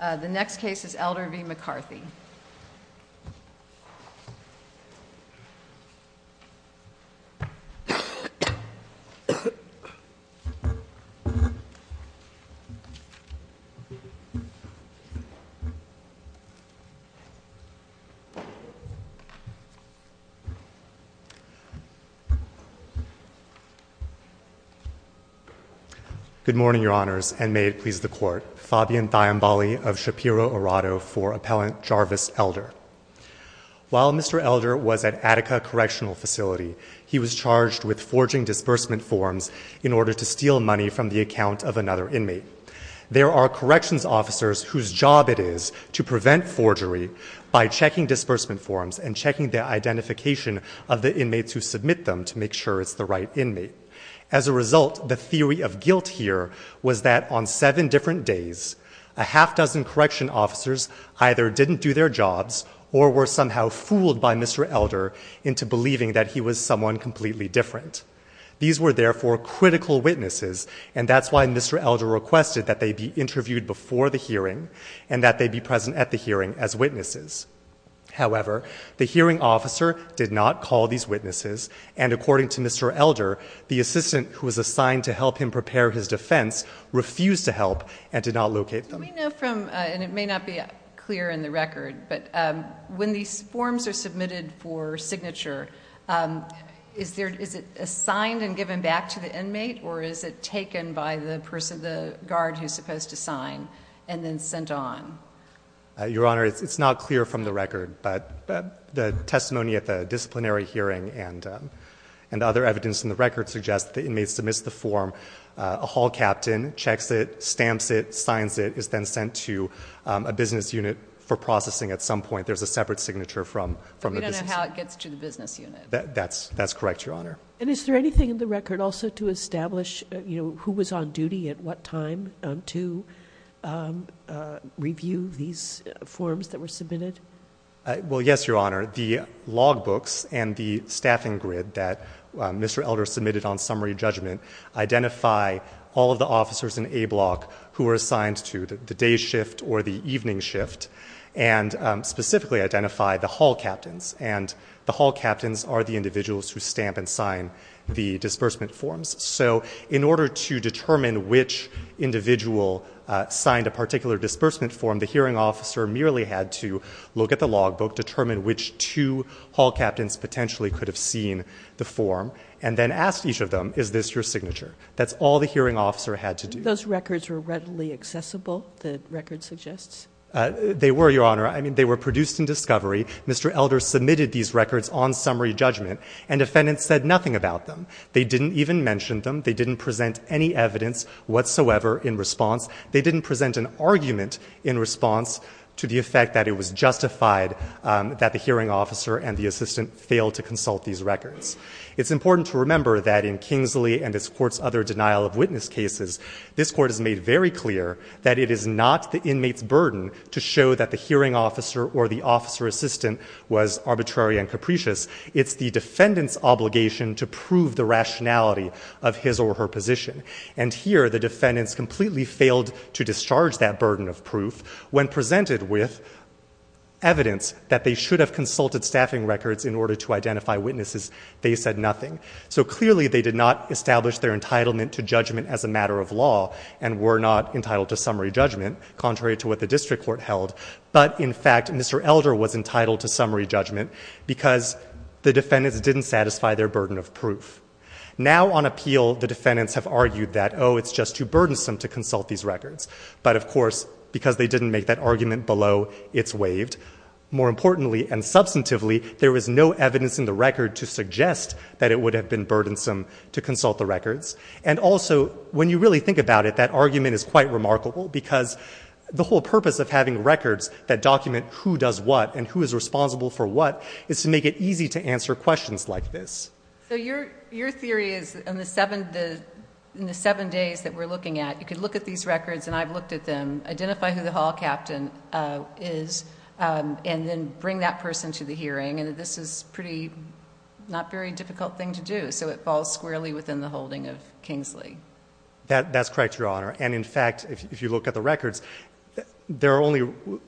The next case is Elder v. McCarthy. Good morning, Your Honors, and may it please the Court, Fabian Thiambali of Shapiro-Arado for Appellant Jarvis Elder. While Mr. Elder was at Attica Correctional Facility, he was charged with forging disbursement forms in order to steal money from the account of another inmate. There are corrections officers whose job it is to prevent forgery by checking disbursement forms and checking the identification of the inmates who submit them to make sure it's the right inmate. As a result, the theory of guilt here was that on seven different days, a half-dozen correction officers either didn't do their jobs or were somehow fooled by Mr. Elder into believing that he was someone completely different. These were therefore critical witnesses, and that's why Mr. Elder requested that they be interviewed before the hearing and that they be present at the hearing as witnesses. However, the hearing officer did not call these witnesses, and according to Mr. Elder, the assistant who was assigned to help him prepare his defense refused to help and did not locate them. Let me know from, and it may not be clear in the record, but when these forms are submitted for signature, is it assigned and given back to the inmate, or is it taken by the person, the guard who's supposed to sign, and then sent on? Your Honor, it's not clear from the record, but the testimony at the disciplinary hearing and other evidence in the record suggests that the inmate submits the form, a hall captain checks it, stamps it, signs it, is then sent to a business unit for processing at some point. There's a separate signature from the business unit. We don't know how it gets to the business unit. That's correct, Your Honor. And is there anything in the record also to establish who was on duty at what time to review these forms that were submitted? Well, yes, Your Honor. The logbooks and the staffing grid that Mr. Elder submitted on summary judgment identify all of the officers in A Block who were assigned to the day shift or the evening shift, and specifically identify the hall captains, and the hall captains are the individuals who stamp and sign the disbursement forms. So in order to determine which individual signed a particular disbursement form, the hearing officer merely had to look at the logbook, determine which two hall captains potentially could have seen the form, and then ask each of them, is this your signature? That's all the hearing officer had to do. Those records were readily accessible, the record suggests? They were, Your Honor. I mean, they were produced in discovery. Mr. Elder submitted these records on summary judgment, and defendants said nothing about them. They didn't even mention them. They didn't present any evidence whatsoever in response. They didn't present an argument in response to the effect that it was justified that the hearing officer and the assistant failed to consult these records. It's important to remember that in Kingsley and this court's other denial of witness cases, this court has made very clear that it is not the inmate's burden to show that the hearing officer or the officer assistant was arbitrary and capricious. It's the defendant's obligation to prove the rationality of his or her position. And here, the defendants completely failed to discharge that burden of proof when presented with evidence that they should have consulted staffing records in order to identify witnesses They said nothing. So clearly they did not establish their entitlement to judgment as a matter of law and were not entitled to summary judgment, contrary to what the district court held. But in fact, Mr. Elder was entitled to summary judgment because the defendants didn't satisfy their burden of proof. Now on appeal, the defendants have argued that, oh, it's just too burdensome to consult these records. More importantly and substantively, there was no evidence in the record to suggest that it would have been burdensome to consult the records. And also when you really think about it, that argument is quite remarkable because the whole purpose of having records that document who does what and who is responsible for what is to make it easy to answer questions like this. So your theory is in the seven days that we're looking at, you could look at these records and I've looked at them, identify who the hall captain is, and then bring that person to the hearing. And this is pretty, not very difficult thing to do. So it falls squarely within the holding of Kingsley. That's correct, Your Honor. And in fact, if you look at the records, there are only,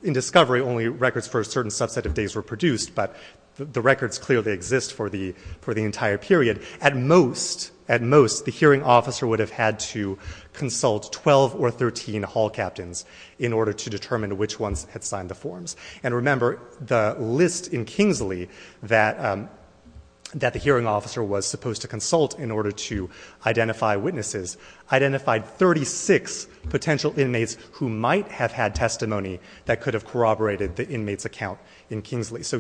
in discovery, only records for a certain subset of days were produced. But the records clearly exist for the entire period. At most, the hearing officer would have had to consult 12 or 13 hall captains in order to determine which ones had signed the forms. And remember, the list in Kingsley that the hearing officer was supposed to consult in order to identify witnesses identified 36 potential inmates who might have had testimony that could have corroborated the inmate's account in Kingsley. How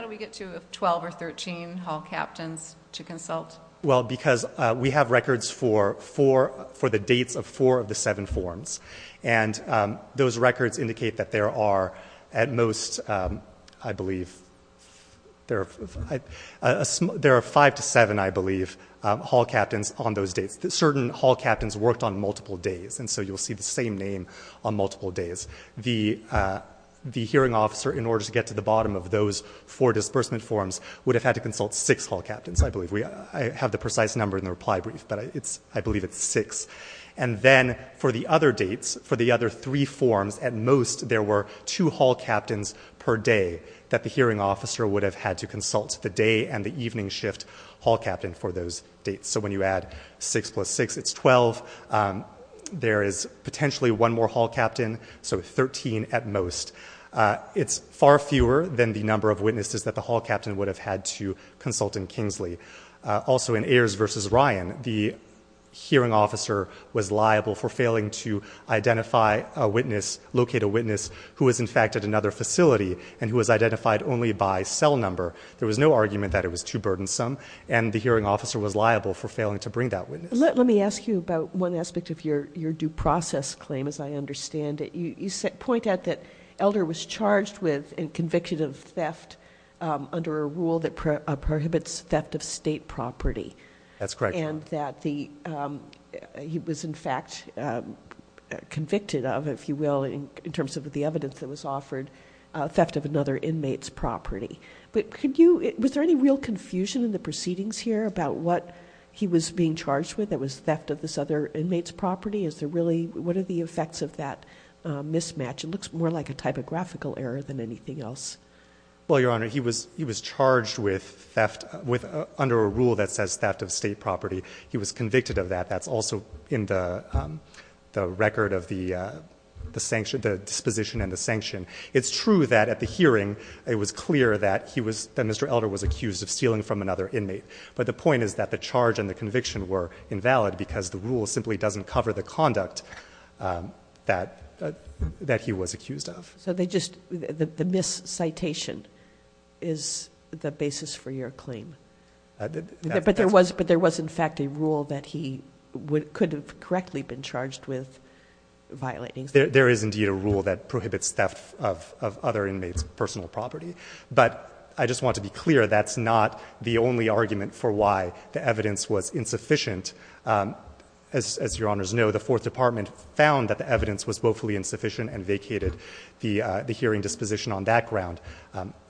do we get to 12 or 13 hall captains to consult? Well, because we have records for the dates of four of the seven forms. And those records indicate that there are at most, I believe, there are five to seven, I believe, hall captains on those dates. Certain hall captains worked on multiple days. And so you'll see the same name on multiple days. The hearing officer, in order to get to the bottom of those four disbursement forms, would have had to consult six hall captains, I believe. We have the precise number in the reply brief, but I believe it's six. And then for the other dates, for the other three forms, at most, there were two hall captains per day that the hearing officer would have had to consult the day and the evening shift hall captain for those dates. So when you add six plus six, it's 12. There is potentially one more hall captain. So 13 at most. It's far fewer than the number of witnesses that the hall captain would have had to consult in Kingsley. Also, in Ayers versus Ryan, the hearing officer was liable for failing to identify a witness, locate a witness who was, in fact, at another facility and who was identified only by cell number. There was no argument that it was too burdensome. And the hearing officer was liable for failing to bring that witness. Let me ask you about one aspect of your due process claim, as I understand it. You point out that Elder was charged with and convicted of theft under a rule that prohibits theft of state property. That's correct. And that he was, in fact, convicted of, if you will, in terms of the evidence that was offered, theft of another inmate's property. But was there any real confusion in the proceedings here about what he was being charged with? It was theft of this other inmate's property. Is there really, what are the effects of that mismatch? It looks more like a typographical error than anything else. Well, Your Honor, he was charged with theft under a rule that says theft of state property. He was convicted of that. That's also in the record of the disposition and the sanction. It's true that at the hearing, it was clear that Mr. Elder was accused of stealing from another inmate. But the point is that the charge and the conviction were invalid because the rule simply doesn't cover the conduct that he was accused of. So they just, the miscitation is the basis for your claim. But there was, in fact, a rule that he could have correctly been charged with violating. There is indeed a rule that prohibits theft of other inmates' personal property. But I just want to be clear, that's not the only argument for why the evidence was insufficient. As your honors know, the fourth department found that the evidence was woefully insufficient and vacated the hearing disposition on that ground.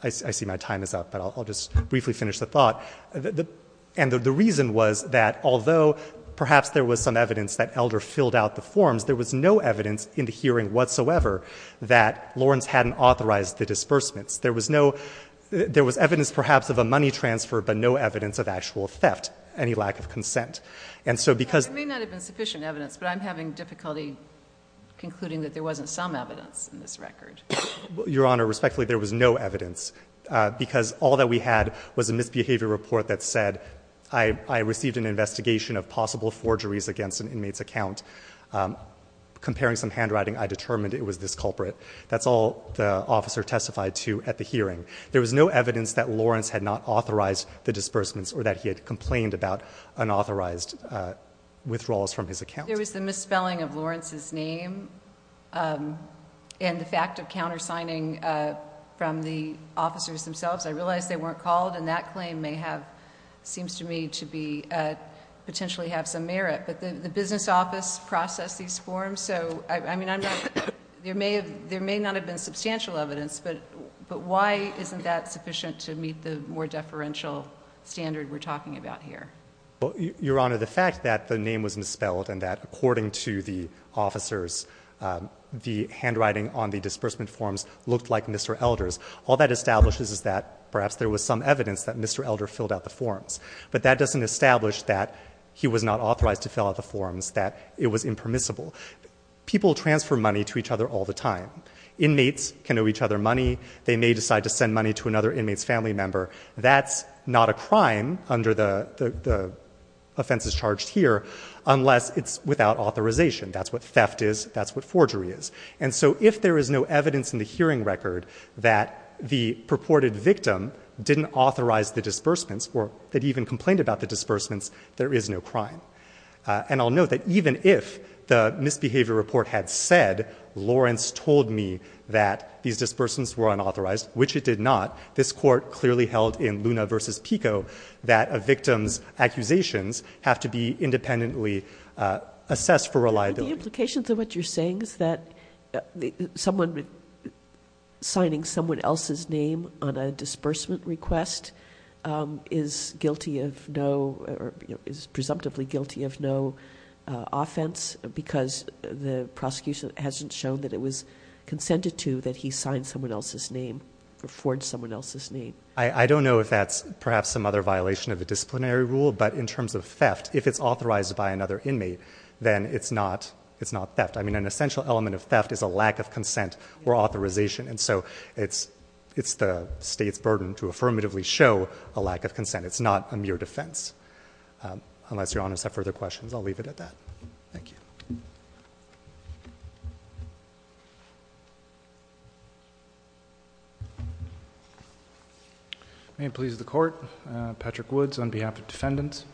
I see my time is up, but I'll just briefly finish the thought. And the reason was that although perhaps there was some evidence that Elder filled out the forms, there was no evidence in the hearing whatsoever that Lawrence hadn't authorized the disbursements. There was no, there was evidence perhaps of a money transfer, but no evidence of actual theft, any lack of consent. And so because- It may not have been sufficient evidence, but I'm having difficulty concluding that there wasn't some evidence in this record. Your honor, respectfully, there was no evidence because all that we had was a misbehavior report that said, I received an investigation of possible forgeries against an inmate's account. Comparing some handwriting, I determined it was this culprit. That's all the officer testified to at the hearing. There was no evidence that Lawrence had not authorized the disbursements or that he had complained about unauthorized withdrawals from his account. There was the misspelling of Lawrence's name. And the fact of countersigning from the officers themselves, I realized they weren't called and that claim may have, seems to me to be potentially have some merit, but the business office processed these forms. So, I mean, I'm not, there may have, there may not have been substantial evidence, but, but why isn't that sufficient to meet the more deferential standard we're talking about here? Well, your honor, the fact that the name was misspelled and that according to the officers, the handwriting on the disbursement forms looked like Mr. Elder's, all that establishes is that perhaps there was some evidence that Mr. Elder filled out the forms, but that doesn't establish that he was not authorized to fill out the forms, that it was impermissible. People transfer money to each other all the time. Inmates can owe each other money. They may decide to send money to another inmate's family member. That's not a crime under the offenses charged here, unless it's without authorization. That's what theft is. That's what forgery is. And so if there is no evidence in the hearing record that the purported victim didn't authorize the disbursements or that even complained about the disbursements, there is no crime. And I'll note that even if the misbehavior report had said, Lawrence told me that these disbursements were unauthorized, which it did not, this court clearly held in Luna versus Pico that a victim's accusations have to be independently assessed for reliability. The implications of what you're saying is that someone signing someone else's name on a disbursement request is guilty of no, or is presumptively guilty of no offense because the prosecution hasn't shown that it was consented to that he signed someone else's name or forged someone else's name. I don't know if that's perhaps some other violation of the disciplinary rule, but in terms of theft, if it's authorized by another inmate, then it's not, it's not theft. I mean, an essential element of theft is a lack of consent or authorization. And so it's, it's the state's burden to affirmatively show a lack of consent. It's not a mere defense. Um, unless your honors have further questions, I'll leave it at that. Thank you. May it please the court, uh, Patrick Woods on behalf of defendants,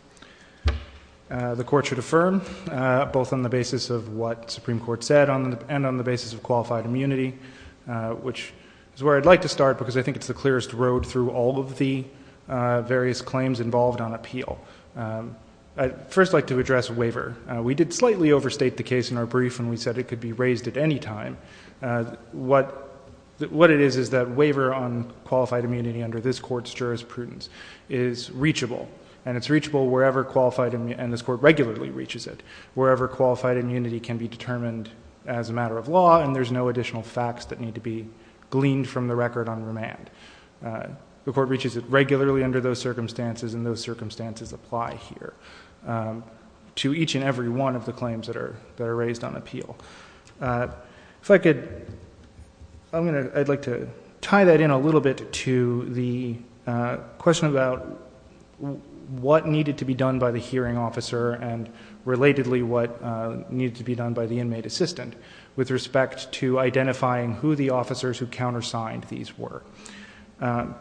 uh, the court should affirm, uh, both on the basis of what Supreme court said on the, and on the uh, which is where I'd like to start because I think it's the clearest road through all of the, uh, various claims involved on appeal. Um, I first like to address waiver. Uh, we did slightly overstate the case in our brief and we said it could be raised at any time. Uh, what, what it is, is that waiver on qualified immunity under this court's jurisprudence is reachable and it's reachable wherever qualified, and this court regularly reaches it wherever qualified immunity can be determined as a facts that need to be gleaned from the record on remand. Uh, the court reaches it regularly under those circumstances and those circumstances apply here, um, to each and every one of the claims that are, that are raised on appeal. Uh, if I could, I'm going to, I'd like to tie that in a little bit to the, uh, question about what needed to be done by the hearing officer and relatedly what, uh, needed to be done by the inmate assistant with respect to identifying who the officers who countersigned these were. Um,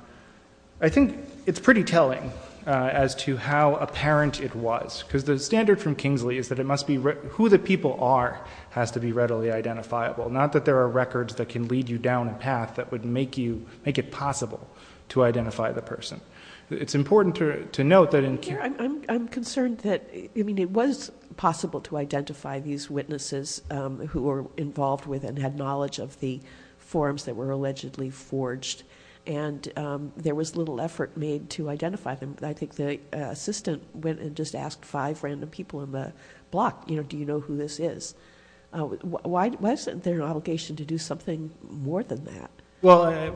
I think it's pretty telling, uh, as to how apparent it was because the standard from Kingsley is that it must be who the people are has to be readily identifiable. Not that there are records that can lead you down a path that would make you make it possible to identify the person. It's important to note that in. I'm concerned that, I mean, it was possible to identify these witnesses, um, who were involved with and had knowledge of the forms that were allegedly forged and, um, there was little effort made to identify them. I think the assistant went and just asked five random people in the block, you know, do you know who this is? Uh, why wasn't there an obligation to do something more than that? Well,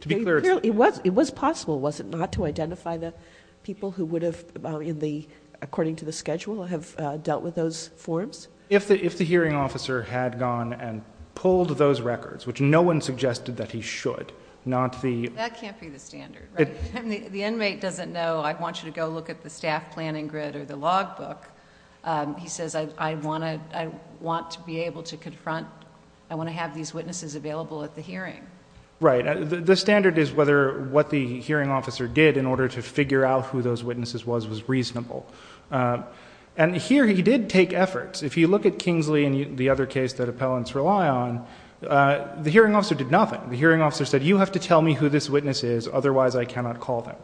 to be clear, it was, it was possible. Was it not to identify the people who would have in the, according to the schedule, have dealt with those forms? If the, if the hearing officer had gone and pulled those records, which no one suggested that he should, not the. That can't be the standard, right? The inmate doesn't know. I want you to go look at the staff planning grid or the log book. Um, he says, I want to, I want to be able to confront, I want to have these witnesses available at the hearing. Right. The standard is whether what the hearing officer did in order to figure out who those witnesses was, was reasonable. Um, and here he did take efforts. If you look at Kingsley and the other case that appellants rely on, uh, the hearing officer did nothing. The hearing officer said, you have to tell me who this witness is. Otherwise I cannot call them.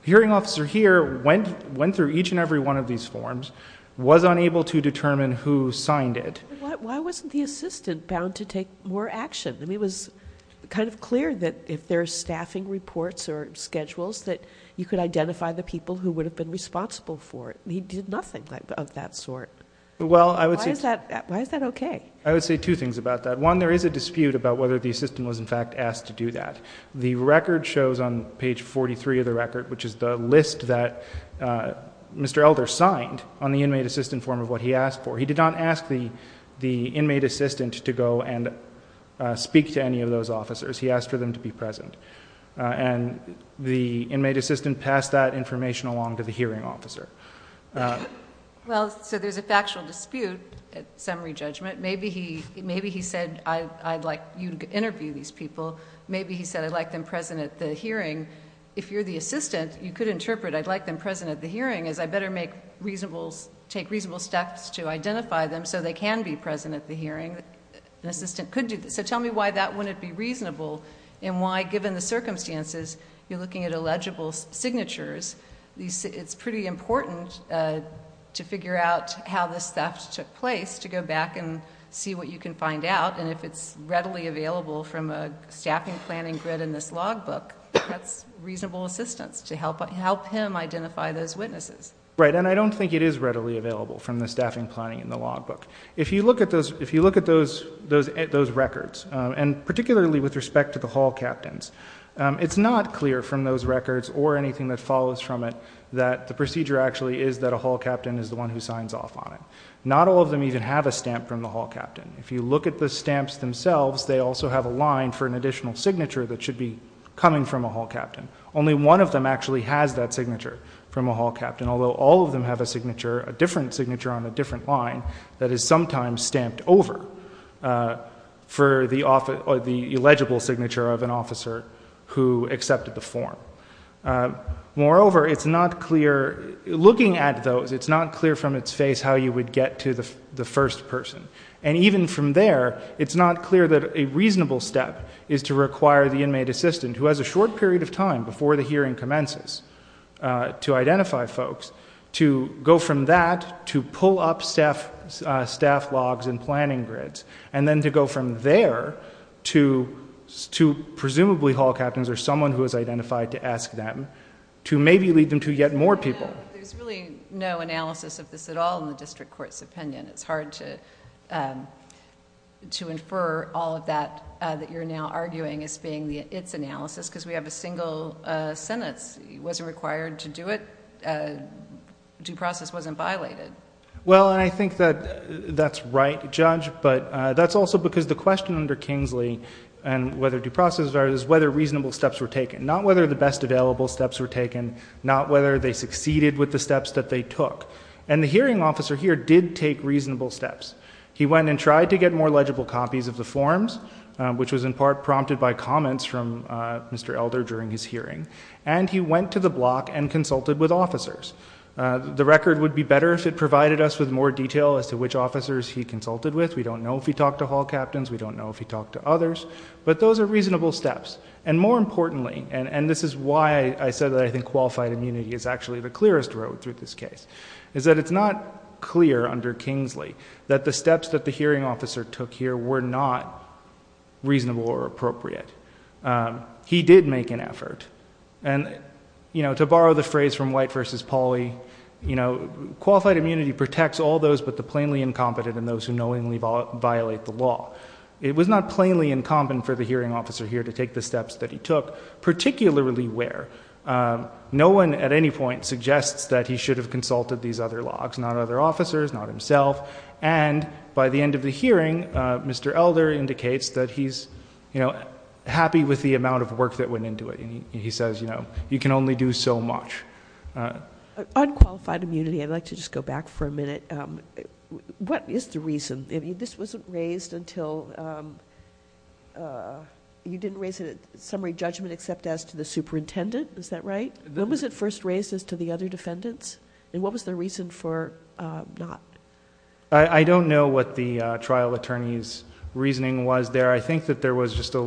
The hearing officer here went, went through each and every one of these forms, was unable to determine who signed it. Why wasn't the assistant bound to take more action? I mean, it was kind of clear that if there's staffing reports or schedules that you could identify the people who would have been responsible for it. He did nothing of that sort. Well, I would say, why is that okay? I would say two things about that. One, there is a dispute about whether the assistant was in fact asked to do that. The record shows on page 43 of the record, which is the list that, uh, Mr. Elder signed on the inmate assistant form of what he asked for. He did not ask the, the inmate assistant to go and speak to any of those officers. He asked for them to be present. Uh, and the inmate assistant passed that information along to the hearing officer. Well, so there's a factual dispute at summary judgment. Maybe he, maybe he said, I'd like you to interview these people. Maybe he said, I'd like them present at the hearing. If you're the assistant, you could interpret I'd like them present at the hearing, an assistant could do that. So tell me why that wouldn't be reasonable and why given the circumstances, you're looking at illegible signatures. These, it's pretty important, uh, to figure out how this theft took place, to go back and see what you can find out. And if it's readily available from a staffing planning grid in this log book, that's reasonable assistance to help, help him identify those witnesses. Right. And I don't think it is readily available from the staffing planning in the log book. If you look at those, if you look at those, those, those records, um, and particularly with respect to the hall captains, um, it's not clear from those records or anything that follows from it, that the procedure actually is that a hall captain is the one who signs off on it. Not all of them even have a stamp from the hall captain. If you look at the stamps themselves, they also have a line for an additional signature that should be coming from a hall captain. Only one of them actually has that signature from a hall captain. And although all of them have a signature, a different signature on a different line that is sometimes stamped over, uh, for the office or the illegible signature of an officer who accepted the form. Uh, moreover, it's not clear looking at those. It's not clear from its face, how you would get to the first person. And even from there, it's not clear that a reasonable step is to require the inmate assistant who has a short period of time before the hearing commences, uh, to identify folks, to go from that, to pull up staff, uh, staff logs and planning grids, and then to go from there to, to presumably hall captains or someone who has identified to ask them, to maybe lead them to yet more people. There's really no analysis of this at all in the district court's opinion. It's hard to, um, to infer all of that, uh, that you're now arguing as being the, it's analysis, because we have a single, uh, sentence. He wasn't required to do it, uh, due process wasn't violated. Well, and I think that that's right, judge, but, uh, that's also because the question under Kingsley and whether due process is whether reasonable steps were taken, not whether the best available steps were taken, not whether they succeeded with the steps that they took and the hearing officer here did take reasonable steps. He went and tried to get more legible copies of the forms, um, which was in by comments from, uh, Mr. Elder during his hearing, and he went to the block and consulted with officers. Uh, the record would be better if it provided us with more detail as to which officers he consulted with. We don't know if he talked to hall captains. We don't know if he talked to others, but those are reasonable steps. And more importantly, and this is why I said that I think qualified immunity is actually the clearest road through this case is that it's not clear under Kingsley that the steps that the hearing officer took here were not reasonable or appropriate. Um, he did make an effort and, you know, to borrow the phrase from white versus Polly, you know, qualified immunity protects all those, but the plainly incompetent and those who knowingly violate the law, it was not plainly incumbent for the hearing officer here to take the steps that he took particularly where, um, no one at any point suggests that he should have consulted these other logs, not other officers, not himself. And by the end of the hearing, uh, Mr. Elder indicates that he's, you know, happy with the amount of work that went into it. And he says, you know, you can only do so much, uh, unqualified immunity. I'd like to just go back for a minute. Um, what is the reason this wasn't raised until, um, uh, you didn't raise it at summary judgment, except as to the superintendent. Is that right? When was it first raised as to the other defendants? And what was the reason for, uh, not? I don't know what the, uh, trial attorney's reasoning was there. I think that there was just a,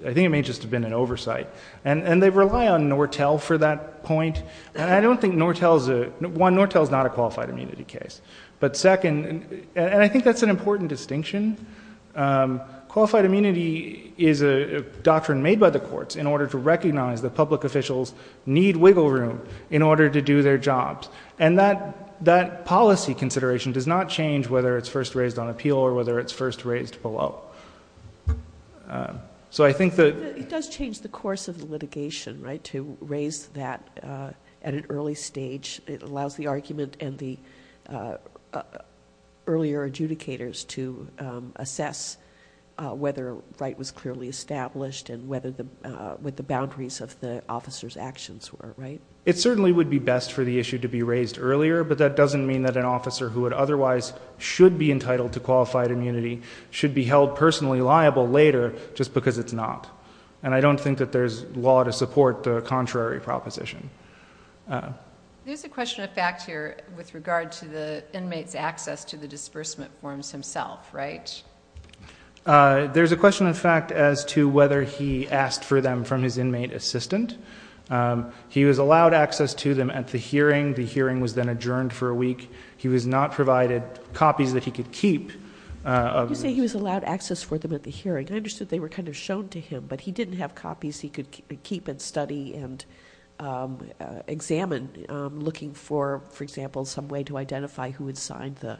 I think it may just have been an oversight and, and they rely on Nortel for that point. And I don't think Nortel is a, one, Nortel is not a qualified immunity case, but second, and I think that's an important distinction. Um, qualified immunity is a doctrine made by the courts in order to recognize the public officials need wiggle room in order to do their jobs. And that, that policy consideration does not change whether it's first raised on appeal or whether it's first raised below. Um, so I think that... It does change the course of the litigation, right? To raise that, uh, at an early stage, it allows the argument and the, uh, uh, earlier adjudicators to, um, assess, uh, whether right was clearly established and whether the, uh, with the boundaries of the officer's actions were right. It certainly would be best for the issue to be raised earlier, but that doesn't mean that an officer who would otherwise should be entitled to qualified immunity should be held personally liable later, just because it's not. And I don't think that there's law to support the contrary proposition. Uh, there's a question of fact here with regard to the inmates access to the disbursement forms himself, right? Uh, there's a question in fact, as to whether he asked for them from his inmate assistant. Um, he was allowed access to them at the hearing. The hearing was then adjourned for a week. He was not provided copies that he could keep, uh... You say he was allowed access for them at the hearing. I understood they were kind of shown to him, but he didn't have copies. He could keep and study and, um, uh, examine, um, looking for, for example, some way to identify who had signed the,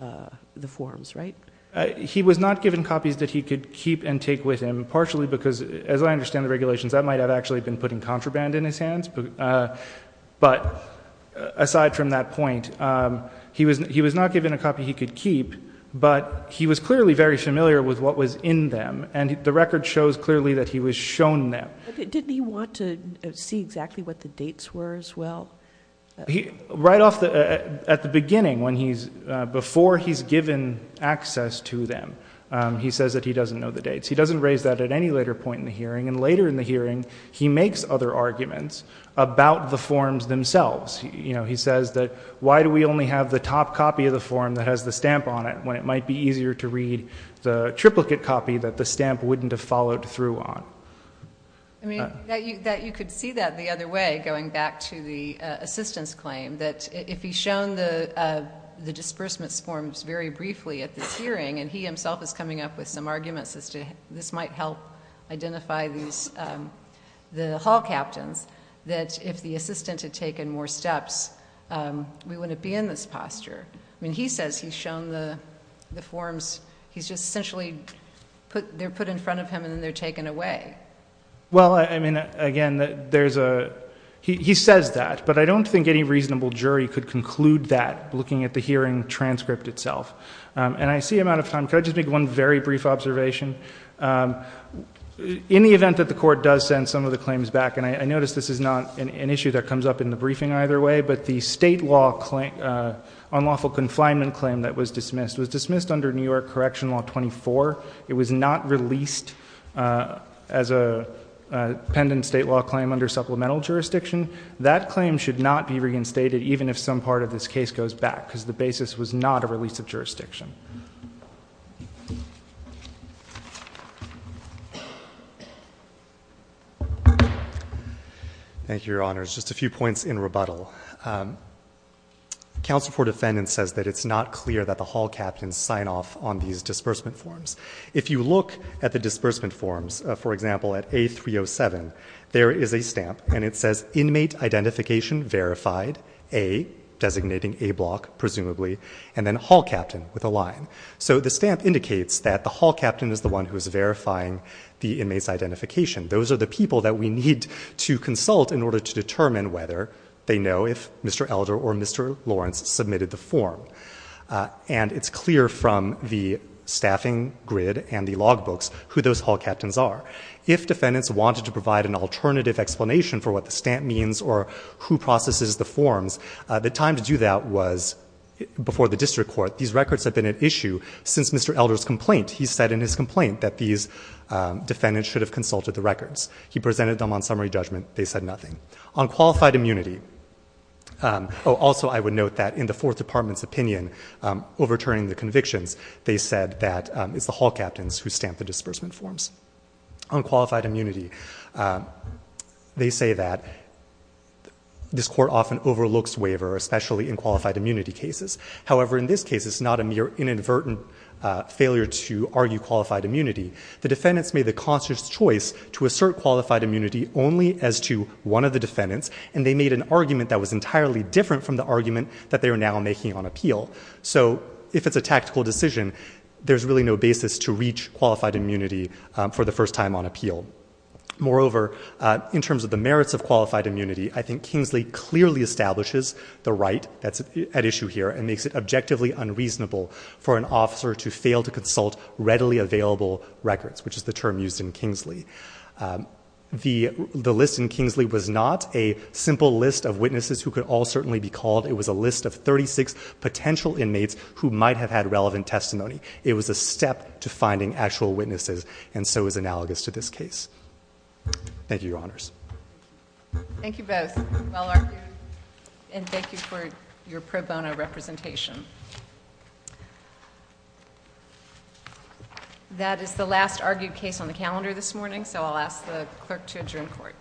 uh, the forms, right? Uh, he was not given copies that he could keep and take with him partially because as I understand the regulations, that might have actually been putting contraband in his hands. But, uh, but aside from that point, um, he was, he was not given a copy he could keep, but he was clearly very familiar with what was in them. And the record shows clearly that he was shown them. Didn't he want to see exactly what the dates were as well? Right off the, at the beginning, when he's, uh, before he's given access to them, um, he says that he doesn't know the dates, he doesn't raise that at any later point in the hearing. And later in the hearing, he makes other arguments about the forms themselves. You know, he says that, why do we only have the top copy of the form that has the stamp on it when it might be easier to read the triplicate copy that the stamp wouldn't have followed through on? I mean, that you, that you could see that the other way, going back to the, uh, assistance claim that if he's shown the, uh, the disbursements forms very briefly at this hearing, and he himself is coming up with some arguments as to this might help identify these, um, the hall captains, that if the assistant had taken more steps, um, we wouldn't be in this posture. I mean, he says he's shown the, the forms, he's just essentially put, they're put in front of him and then they're taken away. Well, I mean, again, there's a, he says that. But I don't think any reasonable jury could conclude that looking at the hearing transcript itself. Um, and I see I'm out of time. Could I just make one very brief observation? Um, in the event that the court does send some of the claims back and I noticed this is not an issue that comes up in the briefing either way, but the state law claim, uh, unlawful confinement claim that was dismissed was dismissed under New York correction law 24. It was not released, uh, as a, uh, pendant state law claim under supplemental jurisdiction. That claim should not be reinstated. Even if some part of this case goes back because the basis was not a release of jurisdiction. Thank you, Your Honors. Just a few points in rebuttal. Um, counsel for defendants says that it's not clear that the hall captains sign off on these disbursement forms. If you look at the disbursement forms, uh, for example, at a 307, there is a inmate identification verified a designating a block presumably, and then hall captain with a line. So the stamp indicates that the hall captain is the one who is verifying the inmates identification. Those are the people that we need to consult in order to determine whether they know if Mr. Elder or Mr. Lawrence submitted the form. Uh, and it's clear from the staffing grid and the log books who those hall captains are, if defendants wanted to provide an alternative explanation for what the stamp means or who processes the forms, uh, the time to do that was before the district court, these records have been at issue since Mr. Elder's complaint. He said in his complaint that these, um, defendants should have consulted the records. He presented them on summary judgment. They said nothing on qualified immunity. Um, oh, also I would note that in the fourth department's opinion, um, overturning the convictions, they said that, um, it's the hall captains who stamp the disbursement forms on qualified immunity. Um, they say that this court often overlooks waiver, especially in qualified immunity cases. However, in this case, it's not a mere inadvertent, uh, failure to argue qualified immunity. The defendants made the conscious choice to assert qualified immunity only as to one of the defendants. And they made an argument that was entirely different from the argument that they are now making on appeal. So if it's a tactical decision, there's really no basis to reach qualified immunity, um, for the first time on appeal. Moreover, uh, in terms of the merits of qualified immunity, I think Kingsley clearly establishes the right that's at issue here and makes it objectively unreasonable for an officer to fail to consult readily available records, which is the term used in Kingsley. Um, the, the list in Kingsley was not a simple list of witnesses who could all certainly be called. It was a list of 36 potential inmates who might have had relevant testimony. It was a step to finding actual witnesses. And so it was analogous to this case. Thank you, Your Honors. Thank you both. And thank you for your pro bono representation. That is the last argued case on the calendar this morning. So I'll ask the clerk to adjourn court.